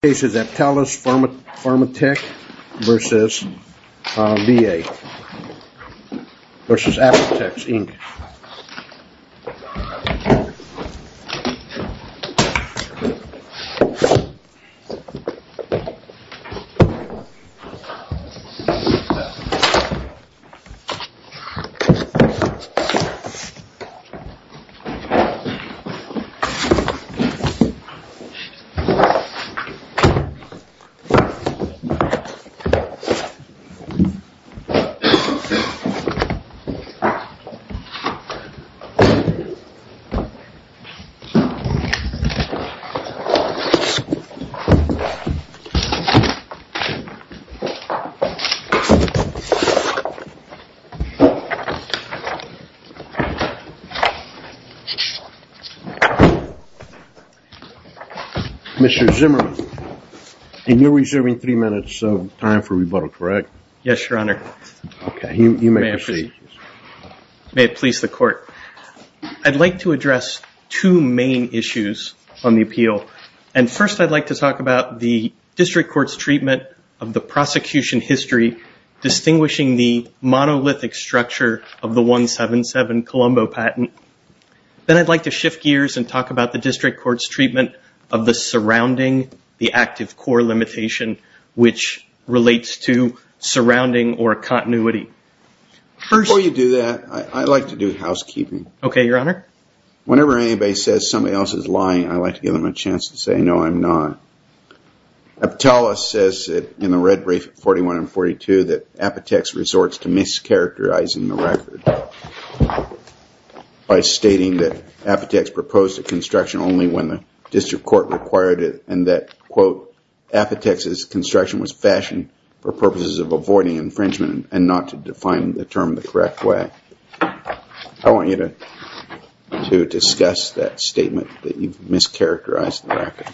The case is Aptalis Pharmatech v. VA v. Apotex, Inc. Mr. Zimmerman. And you're reserving three minutes of time for rebuttal, correct? Yes, Your Honor. Okay, you may proceed. May it please the Court. I'd like to address two main issues on the appeal, and first I'd like to talk about the district court's treatment of the prosecution history distinguishing the monolithic structure of the 177 Colombo patent. Then I'd like to shift gears and talk about the district court's treatment of the surrounding, the active core limitation which relates to surrounding or continuity. Before you do that, I'd like to do housekeeping. Okay, Your Honor. Whenever anybody says somebody else is lying, I like to give them a chance to say, no, I'm not. Aptalis says in the red brief at 41 and 42 that Apotex resorts to mischaracterizing the record by stating that Apotex proposed the construction only when the district court required it and that, quote, Apotex's construction was fashioned for purposes of avoiding infringement and not to define the term the correct way. I want you to discuss that statement that you've mischaracterized the record.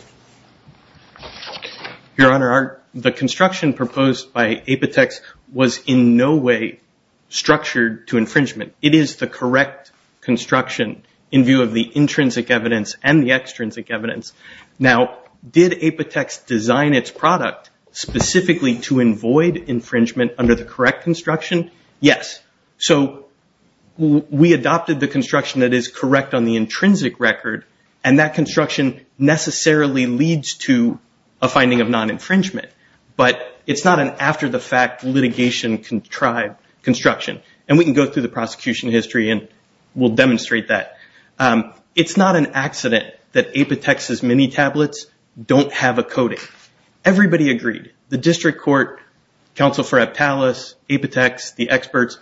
Your Honor, the construction proposed by Apotex was in no way structured to infringement. It is the correct construction in view of the intrinsic evidence and the extrinsic evidence. Now, did Apotex design its product specifically to avoid infringement under the correct construction? Yes. So we adopted the construction that is correct on the intrinsic record and that construction necessarily leads to a finding of non-infringement. But it's not an after-the-fact litigation construction. And we can go through the prosecution history and we'll demonstrate that. It's not an accident that Apotex's mini tablets don't have a coating. Everybody agreed. The district court, counsel for Aptalus, Apotex, the experts,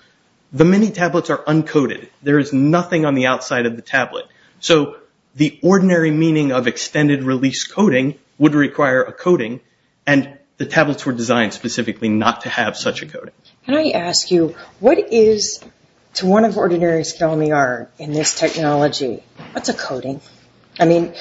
the mini tablets are uncoated. There is nothing on the outside of the tablet. So the ordinary meaning of extended release coating would require a coating, and the tablets were designed specifically not to have such a coating. Can I ask you, what is, to one of ordinary skill in the art in this technology, what's a coating? I mean,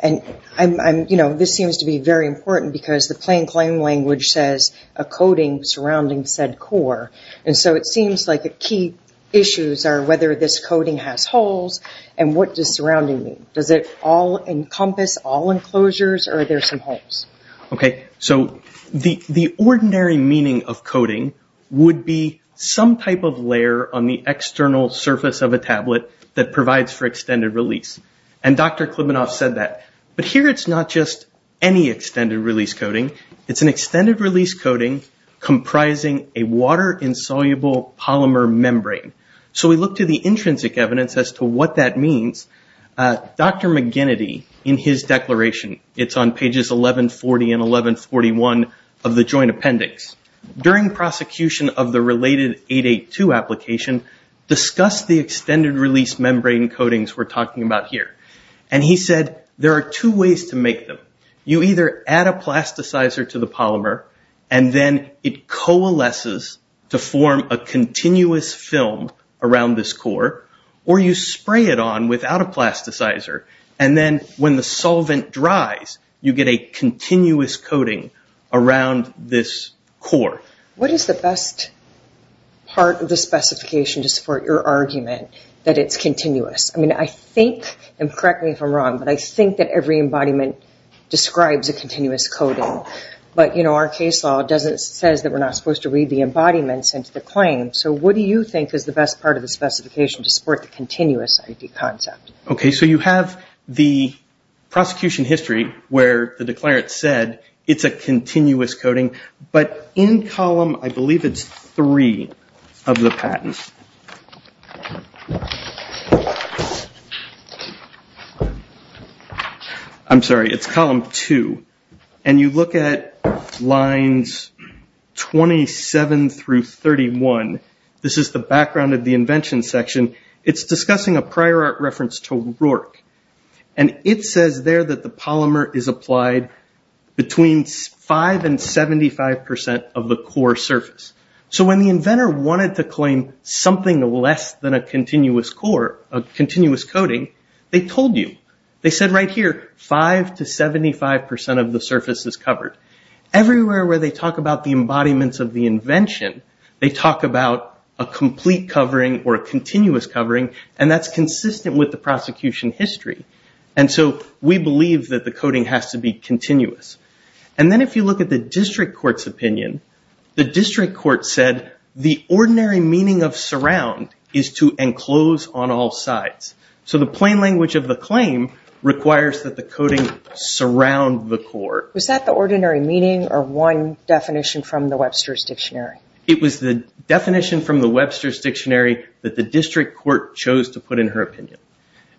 this seems to be very important because the plain claim language says, a coating surrounding said core. And so it seems like the key issues are whether this coating has holes and what does surrounding mean. Does it encompass all enclosures or are there some holes? Okay. So the ordinary meaning of coating would be some type of layer on the external surface of a tablet that provides for extended release. And Dr. Klibanoff said that. But here it's not just any extended release coating. It's an extended release coating comprising a water-insoluble polymer membrane. So we look to the intrinsic evidence as to what that means. Dr. McGinnity, in his declaration, it's on pages 1140 and 1141 of the joint appendix, during prosecution of the related 882 application, discussed the extended release membrane coatings we're talking about here. And he said there are two ways to make them. You either add a plasticizer to the polymer, and then it coalesces to form a continuous film around this core, or you spray it on without a plasticizer. And then when the solvent dries, you get a continuous coating around this core. What is the best part of the specification to support your argument that it's continuous? I mean, I think, and correct me if I'm wrong, but I think that every embodiment describes a continuous coating. But, you know, our case law says that we're not supposed to read the embodiments into the claim. So what do you think is the best part of the specification to support the continuous ID concept? Okay, so you have the prosecution history where the declarant said it's a continuous coating. But in column, I believe it's three of the patents. I'm sorry, it's column two. And you look at lines 27 through 31. This is the background of the invention section. It's discussing a prior art reference to Rourke. And it says there that the polymer is applied between 5% and 75% of the core surface. So when the inventor wanted to claim something less than a continuous core, a continuous coating, they told you. They said right here, 5% to 75% of the surface is covered. Everywhere where they talk about the embodiments of the invention, they talk about a complete covering or a continuous covering, and that's consistent with the prosecution history. And so we believe that the coating has to be continuous. And then if you look at the district court's opinion, the district court said the ordinary meaning of surround is to enclose on all sides. So the plain language of the claim requires that the coating surround the core. Was that the ordinary meaning or one definition from the Webster's Dictionary? It was the definition from the Webster's Dictionary that the district court chose to put in her opinion.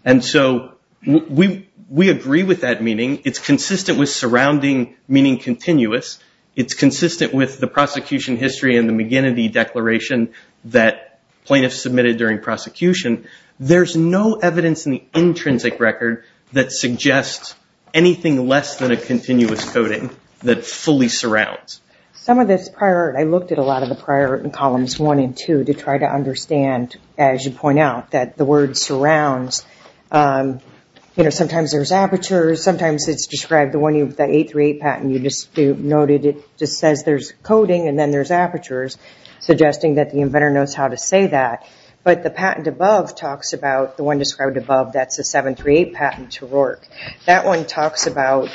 And so we agree with that meaning. It's consistent with surrounding meaning continuous. It's consistent with the prosecution history and the McGinnity Declaration that plaintiffs submitted during prosecution. There's no evidence in the intrinsic record that suggests anything less than a continuous coating that fully surrounds. Some of this prior art, I looked at a lot of the prior art in columns one and two to try to understand, as you point out, that the word surrounds. Sometimes there's apertures. Sometimes it's described, the 838 patent you just noted, it just says there's coating and then there's apertures, suggesting that the inventor knows how to say that. But the patent above talks about, the one described above, that's the 738 patent to Rourke. That one talks about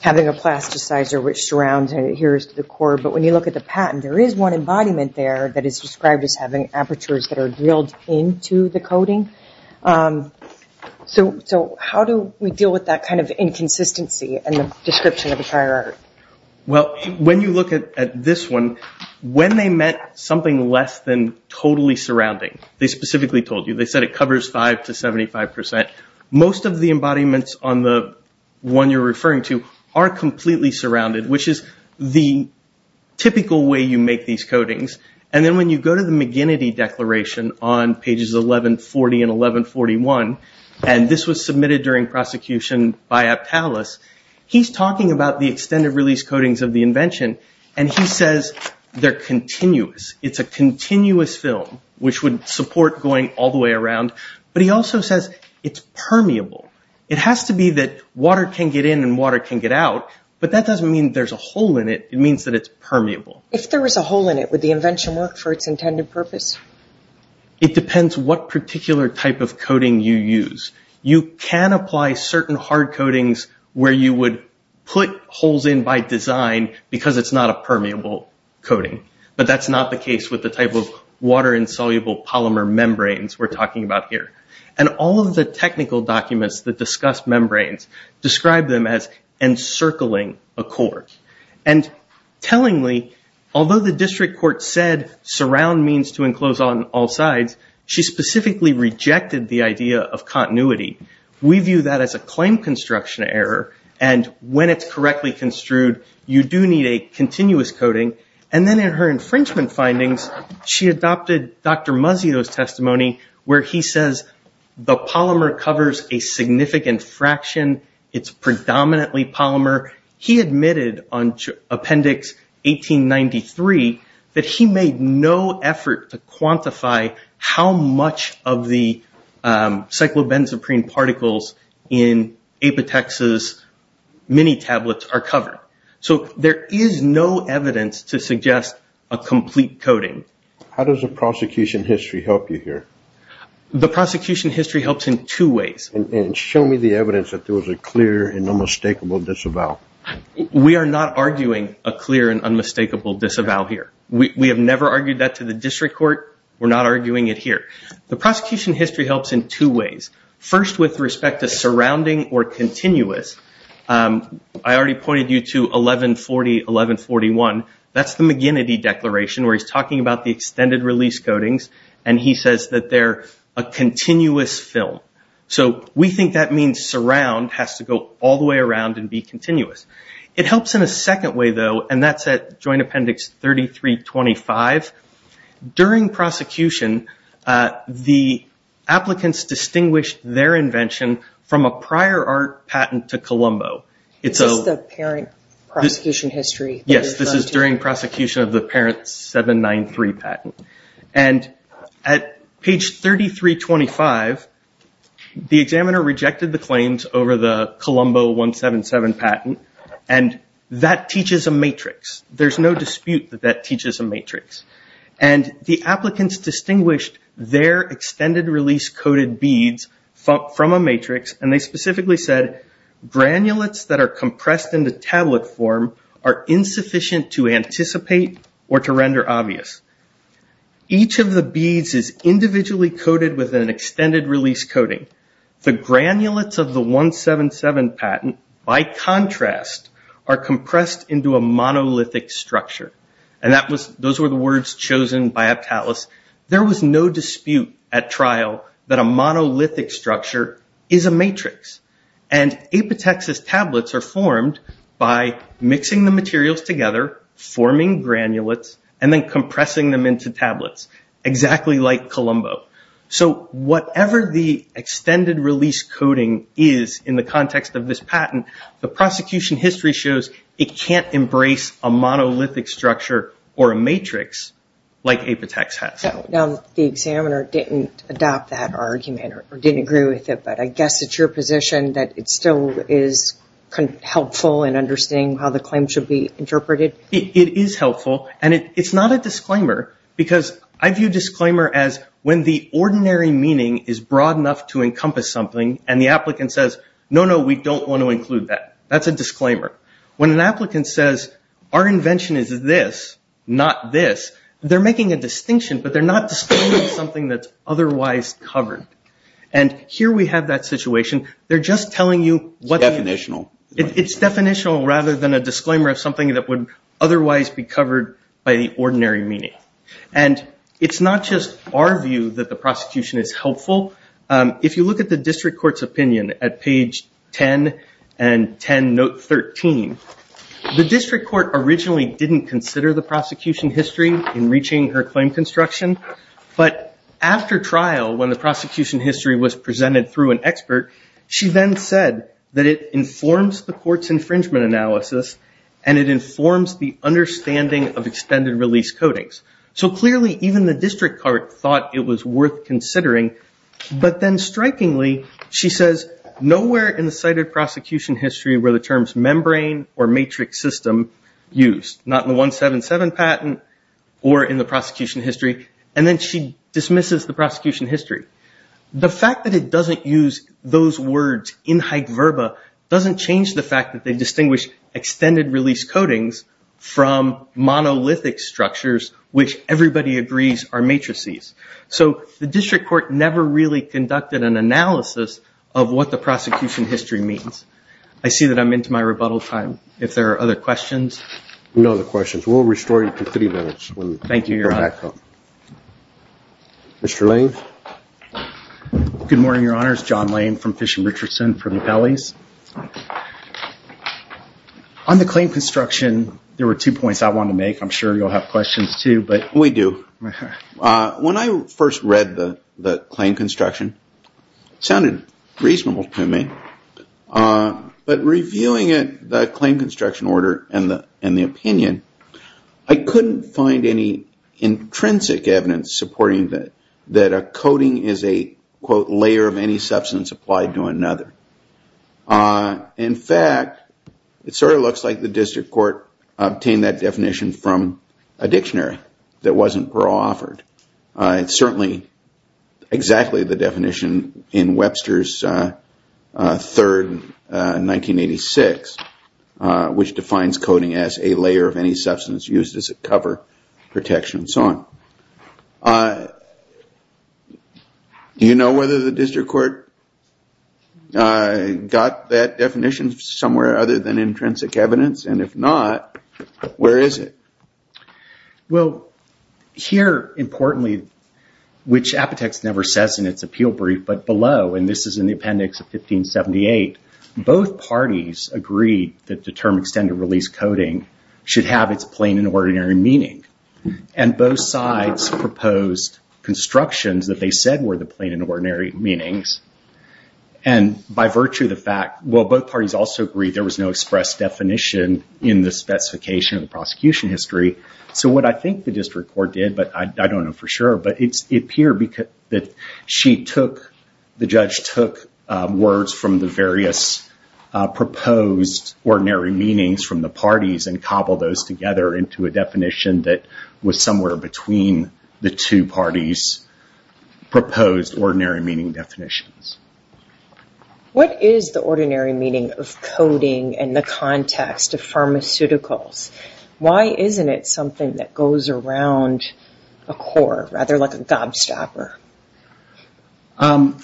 having a plasticizer which surrounds and adheres to the core. But when you look at the patent, there is one embodiment there that is described as having apertures that are drilled into the coating. So how do we deal with that kind of inconsistency in the description of the prior art? Well, when you look at this one, when they meant something less than totally surrounding, they specifically told you. They said it covers 5 to 75%. Most of the embodiments on the one you're referring to are completely surrounded, which is the typical way you make these coatings. And then when you go to the McGinnity Declaration on pages 1140 and 1141, and this was submitted during prosecution by Aptalis, he's talking about the extended release coatings of the invention, and he says they're continuous. It's a continuous film, which would support going all the way around. But he also says it's permeable. It has to be that water can get in and water can get out, but that doesn't mean there's a hole in it. It means that it's permeable. If there was a hole in it, would the invention work for its intended purpose? It depends what particular type of coating you use. You can apply certain hard coatings where you would put holes in by design because it's not a permeable coating, but that's not the case with the type of water-insoluble polymer membranes we're talking about here. And all of the technical documents that discuss membranes describe them as encircling a cork. And tellingly, although the district court said surround means to enclose on all sides, she specifically rejected the idea of continuity. We view that as a claim construction error, and when it's correctly construed, you do need a continuous coating. And then in her infringement findings, she adopted Dr. Muzzio's testimony where he says the polymer covers a significant fraction. It's predominantly polymer. He admitted on Appendix 1893 that he made no effort to quantify how much of the cyclobenzaprine particles in Apotex's mini-tablets are covered. So there is no evidence to suggest a complete coating. How does the prosecution history help you here? The prosecution history helps in two ways. And show me the evidence that there was a clear and unmistakable disavow. We are not arguing a clear and unmistakable disavow here. We have never argued that to the district court. We're not arguing it here. The prosecution history helps in two ways. First, with respect to surrounding or continuous, I already pointed you to 1140, 1141. That's the McGinnity Declaration where he's talking about the extended release coatings, and he says that they're a continuous film. So we think that means surround has to go all the way around and be continuous. It helps in a second way, though, and that's at Joint Appendix 3325. During prosecution, the applicants distinguished their invention from a prior art patent to Columbo. Is this the parent prosecution history? Yes, this is during prosecution of the parent 793 patent. And at page 3325, the examiner rejected the claims over the Columbo 177 patent, and that teaches a matrix. There's no dispute that that teaches a matrix. And the applicants distinguished their extended release coated beads from a matrix, and they specifically said, granulates that are compressed in the tablet form are insufficient to anticipate or to render obvious. Each of the beads is individually coated with an extended release coating. The granulates of the 177 patent, by contrast, are compressed into a monolithic structure. And those were the words chosen by Aptalis. There was no dispute at trial that a monolithic structure is a matrix. And Apitex's tablets are formed by mixing the materials together, forming granulates, and then compressing them into tablets, exactly like Columbo. So whatever the extended release coating is in the context of this patent, the prosecution history shows it can't embrace a monolithic structure or a matrix like Apitex has. Now, the examiner didn't adopt that argument or didn't agree with it, but I guess it's your position that it still is helpful in understanding how the claim should be interpreted? It is helpful, and it's not a disclaimer, because I view disclaimer as when the ordinary meaning is broad enough to encompass something, and the applicant says, no, no, we don't want to include that. That's a disclaimer. When an applicant says, our invention is this, not this, they're making a distinction, but they're not disclaiming something that's otherwise covered. And here we have that situation. They're just telling you what the- It's definitional. It's definitional rather than a disclaimer of something that would otherwise be covered by the ordinary meaning. And it's not just our view that the prosecution is helpful. If you look at the district court's opinion at page 10 and 10, note 13, the district court originally didn't consider the prosecution history in reaching her claim construction, but after trial, when the prosecution history was presented through an expert, she then said that it informs the court's infringement analysis, and it informs the understanding of extended release codings. So clearly, even the district court thought it was worth considering. But then strikingly, she says, nowhere in the cited prosecution history were the terms membrane or matrix system used, not in the 177 patent or in the prosecution history. And then she dismisses the prosecution history. The fact that it doesn't use those words in high verba doesn't change the fact that they distinguish extended release codings from monolithic structures, which everybody agrees are matrices. So the district court never really conducted an analysis of what the prosecution history means. I see that I'm into my rebuttal time. If there are other questions. No other questions. We'll restore you to 30 minutes. Thank you, Your Honor. Mr. Lane. Good morning, Your Honors. John Lane from Fish and Richardson for the Appellees. On the claim construction, there were two points I wanted to make. I'm sure you'll have questions, too. We do. When I first read the claim construction, it sounded reasonable to me. But reviewing the claim construction order and the opinion, I couldn't find any intrinsic evidence supporting that a coding is a, quote, layer of any substance applied to another. In fact, it sort of looks like the district court obtained that definition from a dictionary that wasn't Pearl offered. It's certainly exactly the definition in Webster's third 1986, which defines coding as a layer of any substance used as a cover, protection, and so on. Do you know whether the district court got that definition somewhere other than intrinsic evidence? And if not, where is it? Well, here, importantly, which Apotex never says in its appeal brief, but below, and this is in the appendix of 1578, both parties agreed that the term extended release coding should have its plain and ordinary meaning. And both sides proposed constructions that they said were the plain and ordinary meanings. And by virtue of the fact, well, both parties also agreed there was no express definition in the specification of the prosecution history. So what I think the district court did, but I don't know for sure, but it appeared that the judge took words from the various proposed ordinary meanings from the parties and cobbled those together into a definition that was somewhere between the two parties' proposed ordinary meaning definitions. What is the ordinary meaning of coding in the context of pharmaceuticals? Why isn't it something that goes around a core, rather like a gobstopper?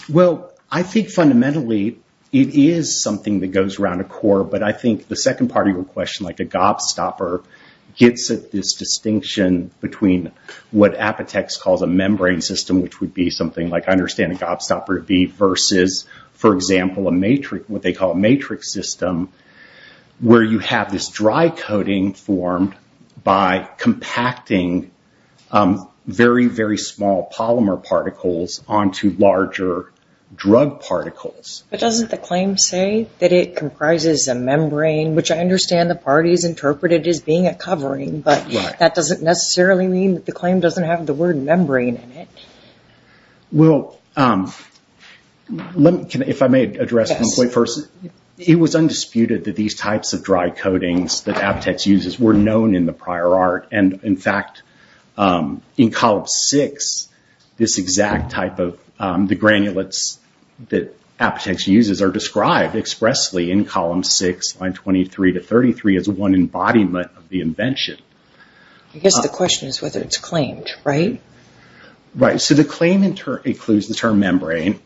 Well, I think fundamentally it is something that goes around a core, but I think the second part of your question, like a gobstopper, gets at this distinction between what Apotex calls a membrane system, which would be something like, I understand, a gobstopper would be, versus, for example, what they call a matrix system, where you have this dry coding formed by compacting very, very small polymer particles onto larger drug particles. But doesn't the claim say that it comprises a membrane, which I understand the parties interpreted as being a covering, but that doesn't necessarily mean that the claim doesn't have the word membrane in it. Well, if I may address one point first, it was undisputed that these types of dry codings that Apotex uses were known in the prior art. In fact, in column six, this exact type of the granulates that Apotex uses are described expressly in column six, line 23 to 33, as one embodiment of the invention. I guess the question is whether it's claimed, right? Right, so the claim includes the term membrane,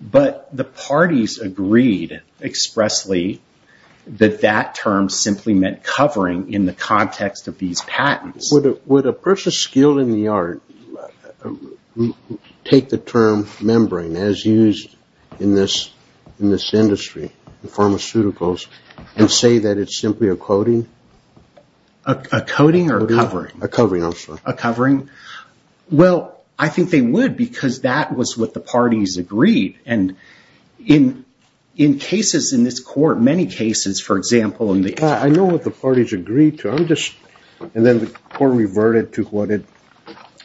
but the parties agreed expressly that that term simply meant covering in the context of these patents. Would a person skilled in the art take the term membrane, as used in this industry, pharmaceuticals, and say that it's simply a coding? A coding or a covering? A covering, I'm sorry. A covering? Well, I think they would because that was what the parties agreed. And in cases in this court, many cases, for example, in the- I know what the parties agreed to. I'm just- and then the court reverted to what it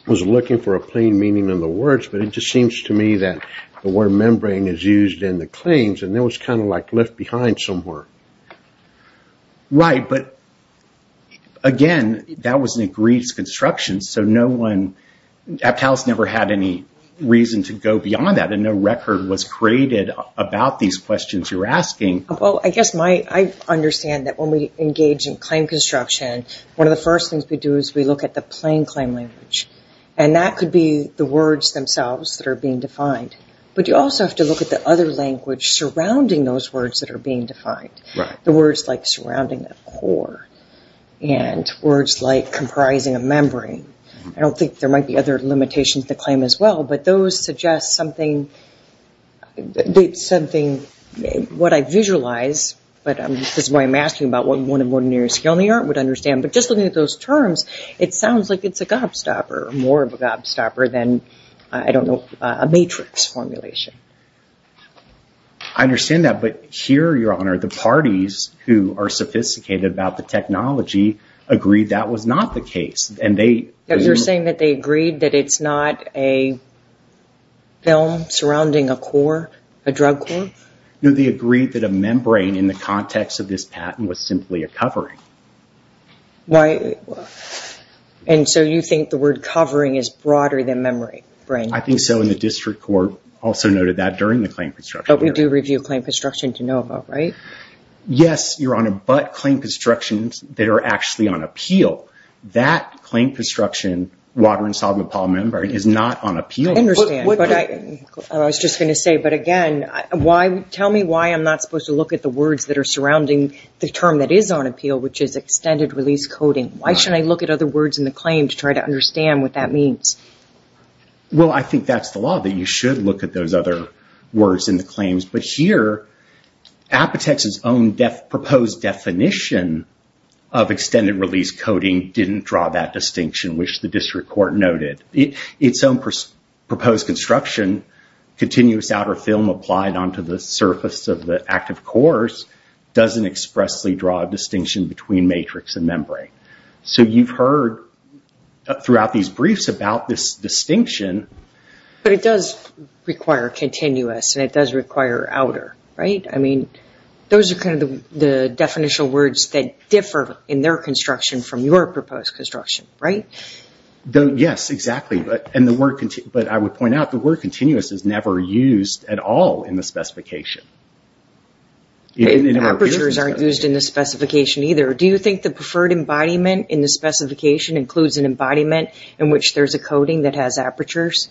was looking for a plain meaning in the words, but it just seems to me that the word membrane is used in the claims, and it was kind of like left behind somewhere. Right, but again, that was an agreed construction, so no one- Aptal's never had any reason to go beyond that, and no record was created about these questions you're asking. Well, I guess my- I understand that when we engage in claim construction, one of the first things we do is we look at the plain claim language, and that could be the words themselves that are being defined. But you also have to look at the other language surrounding those words that are being defined. Right. The words like surrounding a core and words like comprising a membrane. I don't think there might be other limitations to the claim as well, but those suggest something- something- what I visualize, but I'm- this is why I'm asking about what more than ordinary skill in the art would understand, but just looking at those terms, it sounds like it's a gobstopper, more of a gobstopper than, I don't know, a matrix formulation. I understand that, but here, Your Honor, the parties who are sophisticated about the technology agree that was not the case, and they- You're saying that they agreed that it's not a film surrounding a core, a drug core? No, they agreed that a membrane in the context of this patent was simply a covering. Why- and so you think the word covering is broader than membrane? I think so, and the district court also noted that during the claim construction. But we do review claim construction to know about, right? Yes, Your Honor, but claim constructions that are actually on appeal, that claim construction, water and solvent polymorphic membrane, is not on appeal. I understand, but I was just going to say, but again, why- tell me why I'm not supposed to look at the words that are surrounding the term that is on appeal, which is extended release coding. Why should I look at other words in the claim to try to understand what that means? Well, I think that's the law, that you should look at those other words in the claims. But here, Apotex's own proposed definition of extended release coding didn't draw that distinction, which the district court noted. Its own proposed construction, continuous outer film applied onto the surface of the active cores, doesn't expressly draw a distinction between matrix and membrane. So you've heard throughout these briefs about this distinction- But it does require continuous, and it does require outer, right? I mean, those are kind of the definitional words that differ in their construction from your proposed construction, right? Yes, exactly, but I would point out the word continuous is never used at all in the specification. Apertures aren't used in the specification either. Do you think the preferred embodiment in the specification includes an embodiment in which there's a coding that has apertures?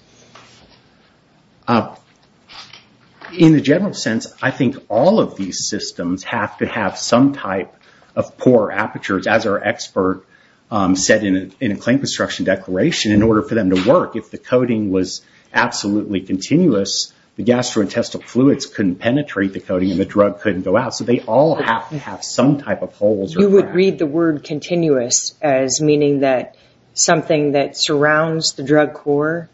In the general sense, I think all of these systems have to have some type of poor apertures, as our expert said in a claim construction declaration, in order for them to work. If the coding was absolutely continuous, the gastrointestinal fluids couldn't penetrate the coding and the drug couldn't go out, so they all have to have some type of holes. You would read the word continuous as meaning that something that surrounds the drug core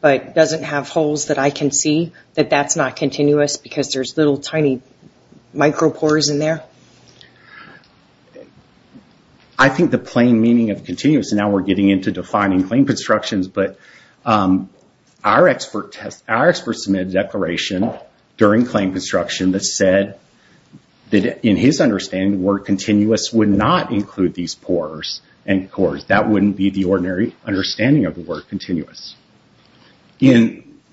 but doesn't have holes that I can see, that that's not continuous because there's little tiny micropores in there? I think the plain meaning of continuous, and now we're getting into defining claim constructions, but our expert submitted a declaration during claim construction that said that in his understanding, the word continuous would not include these pores and cores. That wouldn't be the ordinary understanding of the word continuous. You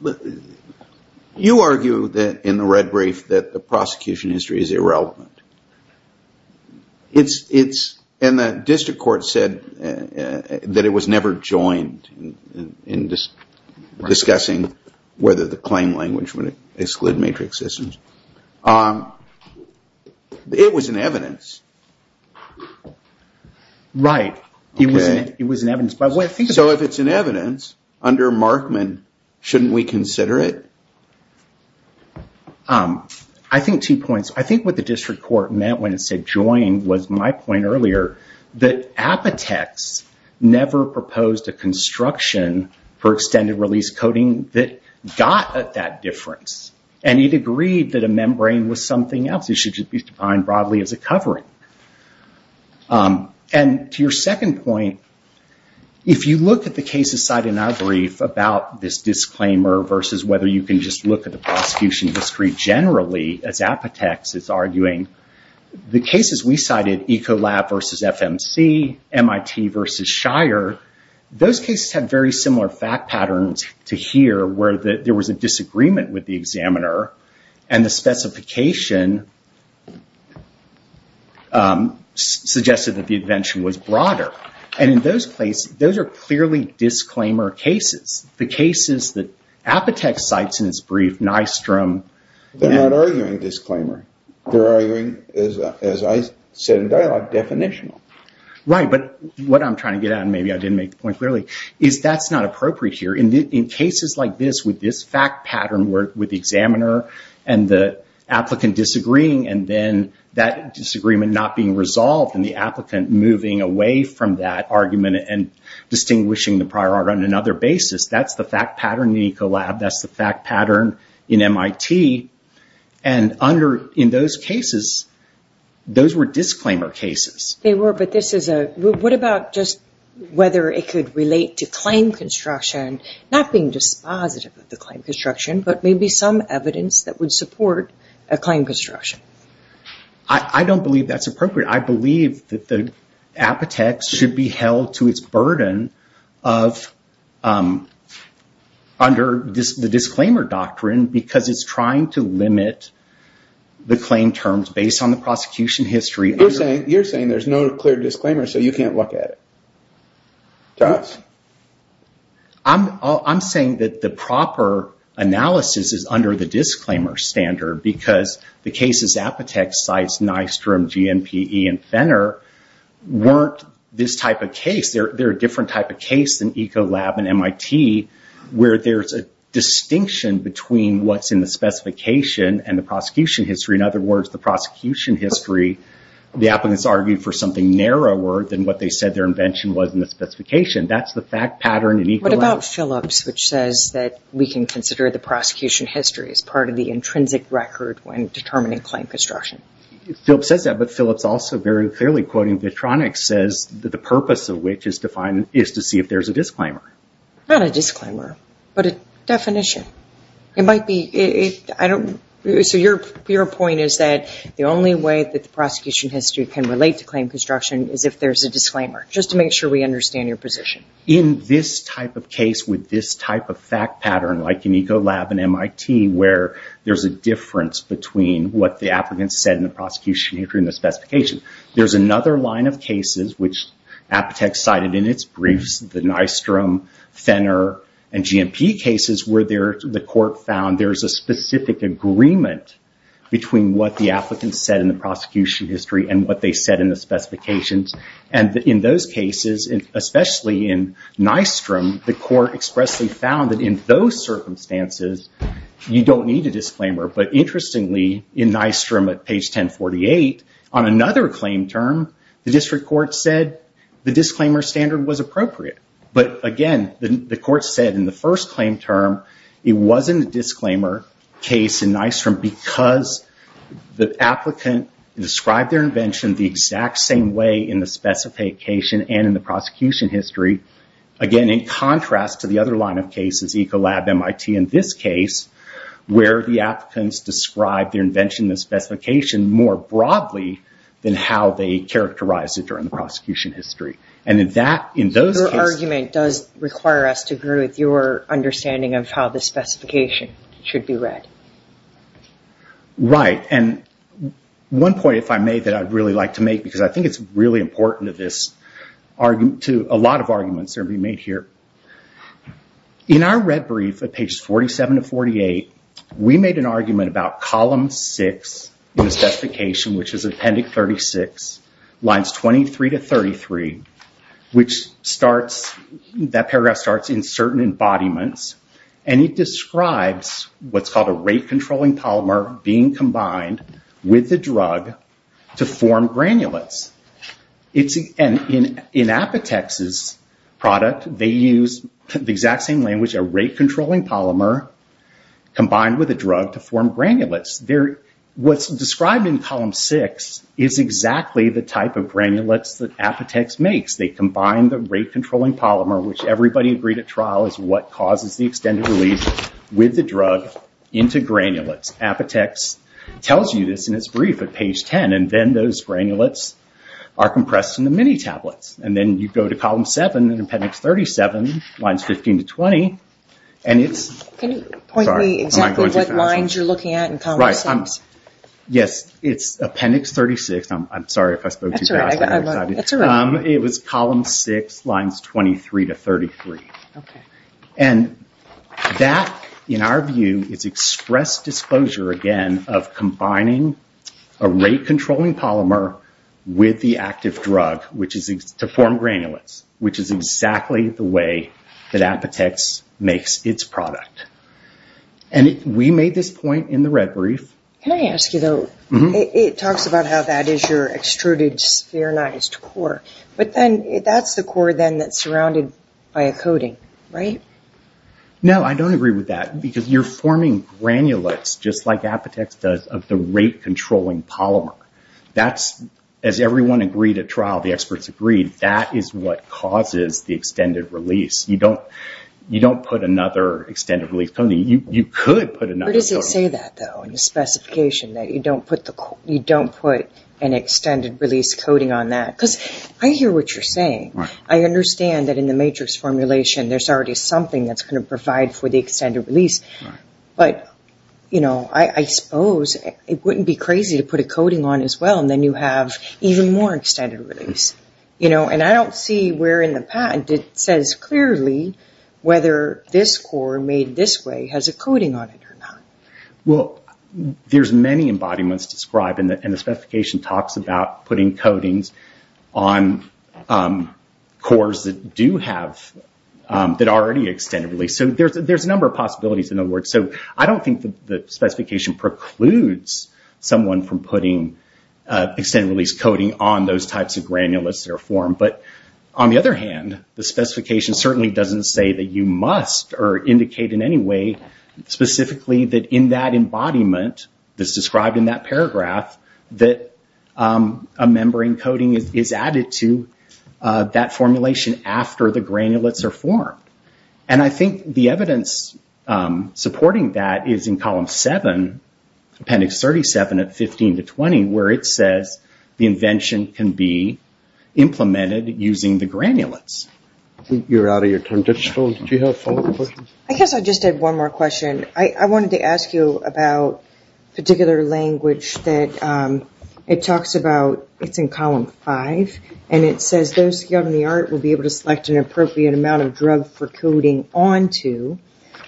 argue in the red brief that the prosecution history is irrelevant. It's, and the district court said that it was never joined in discussing whether the claim language would exclude matrix systems. It was in evidence. Right, it was in evidence. So if it's in evidence, under Markman, shouldn't we consider it? I think two points. I think what the district court meant when it said join was my point earlier that Apotex never proposed a construction for extended release coding that got at that difference, and it agreed that a membrane was something else. It should just be defined broadly as a covering. And to your second point, if you look at the case aside in our brief about this disclaimer versus whether you can just look at the prosecution history generally, as Apotex is arguing, the cases we cited, Ecolab versus FMC, MIT versus Shire, those cases had very similar fact patterns to here where there was a disagreement with the examiner, and the specification suggested that the invention was broader. And in those cases, those are clearly disclaimer cases. The cases that Apotex cites in its brief, Nystrom... They're not arguing disclaimer. They're arguing, as I said in dialogue, definitional. Right, but what I'm trying to get at, and maybe I didn't make the point clearly, is that's not appropriate here. In cases like this, with this fact pattern with the examiner and the applicant disagreeing, and then that disagreement not being resolved and the applicant moving away from that argument and distinguishing the prior art on another basis, that's the fact pattern in Ecolab, that's the fact pattern in MIT. And in those cases, those were disclaimer cases. They were, but this is a... What about just whether it could relate to claim construction, not being dispositive of the claim construction, but maybe some evidence that would support a claim construction? I don't believe that's appropriate. I believe that Apotex should be held to its burden under the disclaimer doctrine because it's trying to limit the claim terms based on the prosecution history. You're saying there's no clear disclaimer, so you can't look at it. Thomas? I'm saying that the proper analysis is under the disclaimer standard because the cases Apotex cites, Nystrom, GNPE, and Fenner weren't this type of case. They're a different type of case than Ecolab and MIT where there's a distinction between what's in the specification and the prosecution history. In other words, the prosecution history, the applicants argued for something narrower than what they said their invention was in the specification. That's the fact pattern in Ecolab. What about Phillips, which says that we can consider the prosecution history as part of the intrinsic record when determining claim construction? Phillips says that, but Phillips also very clearly, quoting Vitronics, says the purpose of which is to see if there's a disclaimer. Not a disclaimer, but a definition. It might be... So your point is that the only way that the prosecution history can relate to claim construction is if there's a disclaimer, just to make sure we understand your position. In this type of case with this type of fact pattern, like in Ecolab and MIT where there's a difference between what the applicants said in the prosecution history and the specification, there's another line of cases which Aptek cited in its briefs, the Nystrom, Fenner, and GMP cases where the court found there's a specific agreement between what the applicants said in the prosecution history and what they said in the specifications. In those cases, especially in Nystrom, the court expressly found that in those circumstances, you don't need a disclaimer. But interestingly, in Nystrom at page 1048, on another claim term, the district court said the disclaimer standard was appropriate. But again, the court said in the first claim term it wasn't a disclaimer case in Nystrom because the applicant described their invention the exact same way in the specification and in the prosecution history. Again, in contrast to the other line of cases, Ecolab, MIT, in this case, where the applicants described their invention and the specification more broadly than how they characterized it during the prosecution history. Your argument does require us to agree with your understanding of how the specification should be read. Right. One point, if I may, that I'd really like to make because I think it's really important to a lot of arguments that are being made here. In our red brief at pages 47 to 48, we made an argument about column 6 in the specification, which is Appendix 36, lines 23 to 33, which that paragraph starts in certain embodiments and it describes what's called a rate-controlling polymer being combined with the drug to form granulates. In Apotex's product, they use the exact same language, a rate-controlling polymer combined with a drug to form granulates. What's described in column 6 is exactly the type of granulates that Apotex makes. They combine the rate-controlling polymer, which everybody agreed at trial is what causes the extended relief, with the drug into granulates. Apotex tells you this in its brief at page 10 and then those granulates are compressed into mini tablets. Then you go to column 7 in Appendix 37, lines 15 to 20. Can you point me exactly what lines you're looking at in column 6? Right. Yes, it's Appendix 36. I'm sorry if I spoke too fast. It was column 6, lines 23 to 33. That, in our view, is express disclosure, again, of combining a rate-controlling polymer with the active drug to form granulates, which is exactly the way that Apotex makes its product. We made this point in the red brief. Can I ask you, though? It talks about how that is your extruded, spherinized core, but that's the core then that's surrounded by a coating, right? No, I don't agree with that because you're forming granulates, just like Apotex does, of the rate-controlling polymer. As everyone agreed at trial, the experts agreed, that is what causes the extended release. You don't put another extended-release coating. You could put another coating. Where does it say that, though, in the specification, that you don't put an extended-release coating on that? Because I hear what you're saying. I understand that in the matrix formulation, there's already something that's going to provide for the extended release, but I suppose it wouldn't be crazy to put a coating on as well, and then you have even more extended release. I don't see where in the patent it says clearly whether this core, made this way, has a coating on it or not. Well, there's many embodiments described and the specification talks about putting coatings on cores that do have, that are already extended-release. There's a number of possibilities, in other words. I don't think the specification precludes someone from putting extended-release coating on those types of granulates that are formed, but on the other hand, the specification certainly doesn't say that you must or indicate in any way specifically that in that embodiment that's described in that paragraph, that a membrane coating is added to that formulation after the granulates are formed. And I think the evidence supporting that is in column 7, appendix 37 at 15 to 20, where it says the invention can be implemented using the granulates. I guess I just had one more question. I wanted to ask you about a particular language that it talks about, it's in column 5, and it says those skilled in the art will be able to select an appropriate amount of drug for coating onto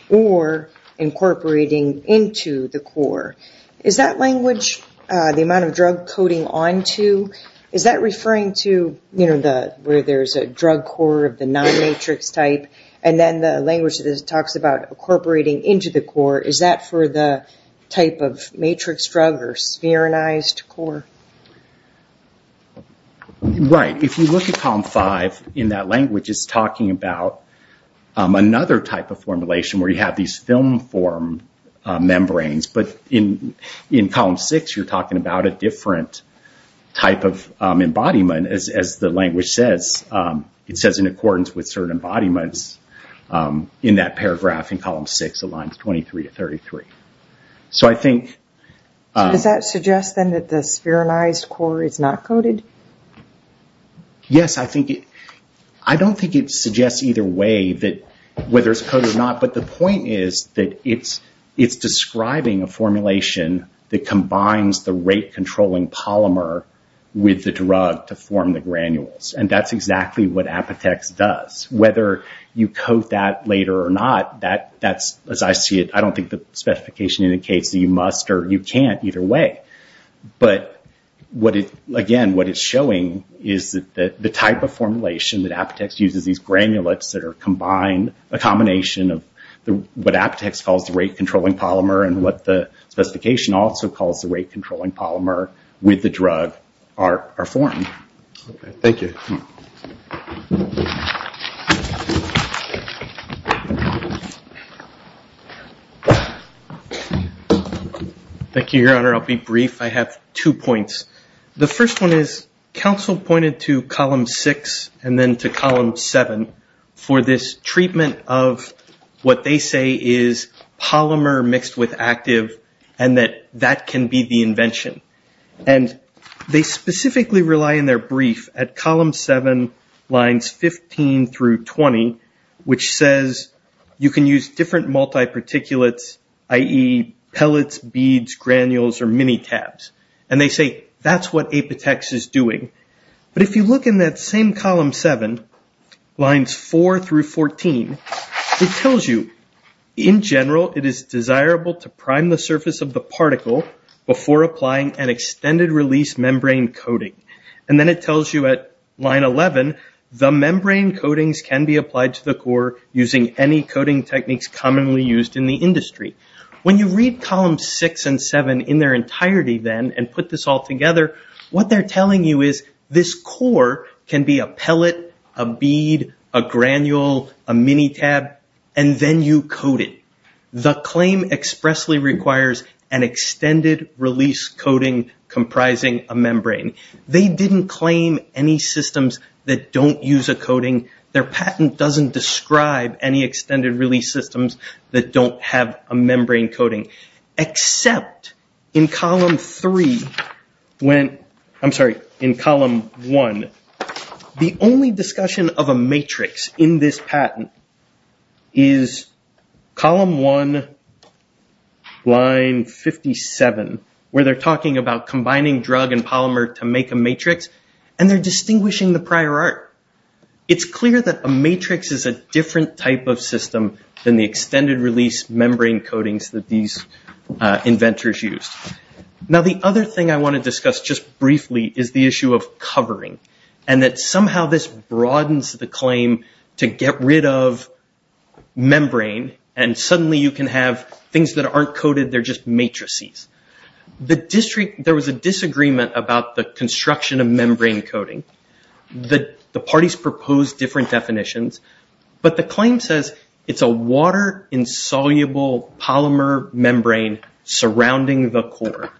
or incorporating into the core. Is that language, the amount of drug coating onto, is that referring to where there's a drug core of the non-matrix type? And then the language that it talks about incorporating into the core, is that for the type of matrix drug or spherinized core? Right. If you look at column 5, in that language it's talking about another type of formulation where you have these film-form membranes, but in column 6 you're talking about a different type of embodiment, as the language says. It says in accordance with certain embodiments in that paragraph in column 6, lines 23 to 33. Does that suggest then that the spherinized core is not coated? Yes, I don't think it suggests either way whether it's coated or not, but the point is that it's describing a formulation that combines the rate-controlling polymer with the drug to form the granules. And that's exactly what Apitex does. Whether you coat that later or not, as I see it, I don't think the specification indicates that you must or you can't either way. But again, what it's showing is that the type of formulation that Apitex uses, these granulates that are combined, a combination of what Apitex calls the rate-controlling polymer and what the specification also calls the rate-controlling polymer with the drug are formed. Thank you, Your Honor. I'll be brief. I have two points. The first one is, counsel pointed to column 6 and then to column 7 for this polymer mixed with active and that that can be the invention. They specifically rely in their brief at column 7 lines 15 through 20 which says you can use different multi-particulates i.e. pellets, beads, granules or mini-tabs. And they say that's what Apitex is doing. But if you look in that same column 7, lines 4 through 14 it tells you in general it is desirable to prime the surface of the particle before applying an extended release membrane coating. And then it tells you at line 11 the membrane coatings can be applied to the core using any coating techniques commonly used in the industry. When you read columns 6 and 7 in their entirety then and put this all together, what they're telling you is this core can be a pellet a bead, a granule, a mini-tab and then you coat it. The claim expressly requires an extended release coating comprising a membrane. They didn't claim any systems that don't use a coating. Their patent doesn't describe any extended release systems that don't have a membrane coating. Except in column 3, I'm sorry, in column 1. The only discussion of a matrix in this patent is column 1 line 57 where they're talking about combining drug and polymer to make a matrix and they're distinguishing the prior art. It's clear that a matrix is a different type of system than the extended release membrane coatings that these inventors used. Now the other thing I want to discuss just briefly is the issue of covering and that somehow this broadens the claim to get rid of membrane and suddenly you can have things that aren't coated, they're just matrices. There was a disagreement about the construction of membrane coating. The parties proposed different definitions but the claim says it's a water-insoluble polymer membrane surrounding the core.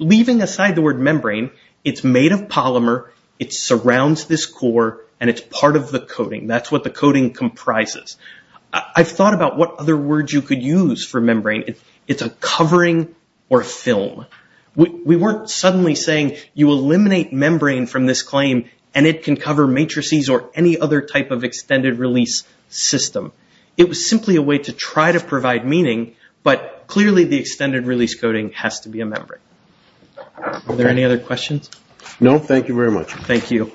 Leaving aside the word membrane, it's made of polymer, it surrounds this core and it's part of the coating. That's what the coating comprises. I've thought about what other words you could use for membrane. It's a covering or film. We weren't suddenly saying you eliminate membrane from this claim and it can cover matrices or any other type of extended release system. It was simply a way to try to provide meaning but clearly the extended release coating has to be a membrane. Are there any other questions? No, thank you very much. Thank you.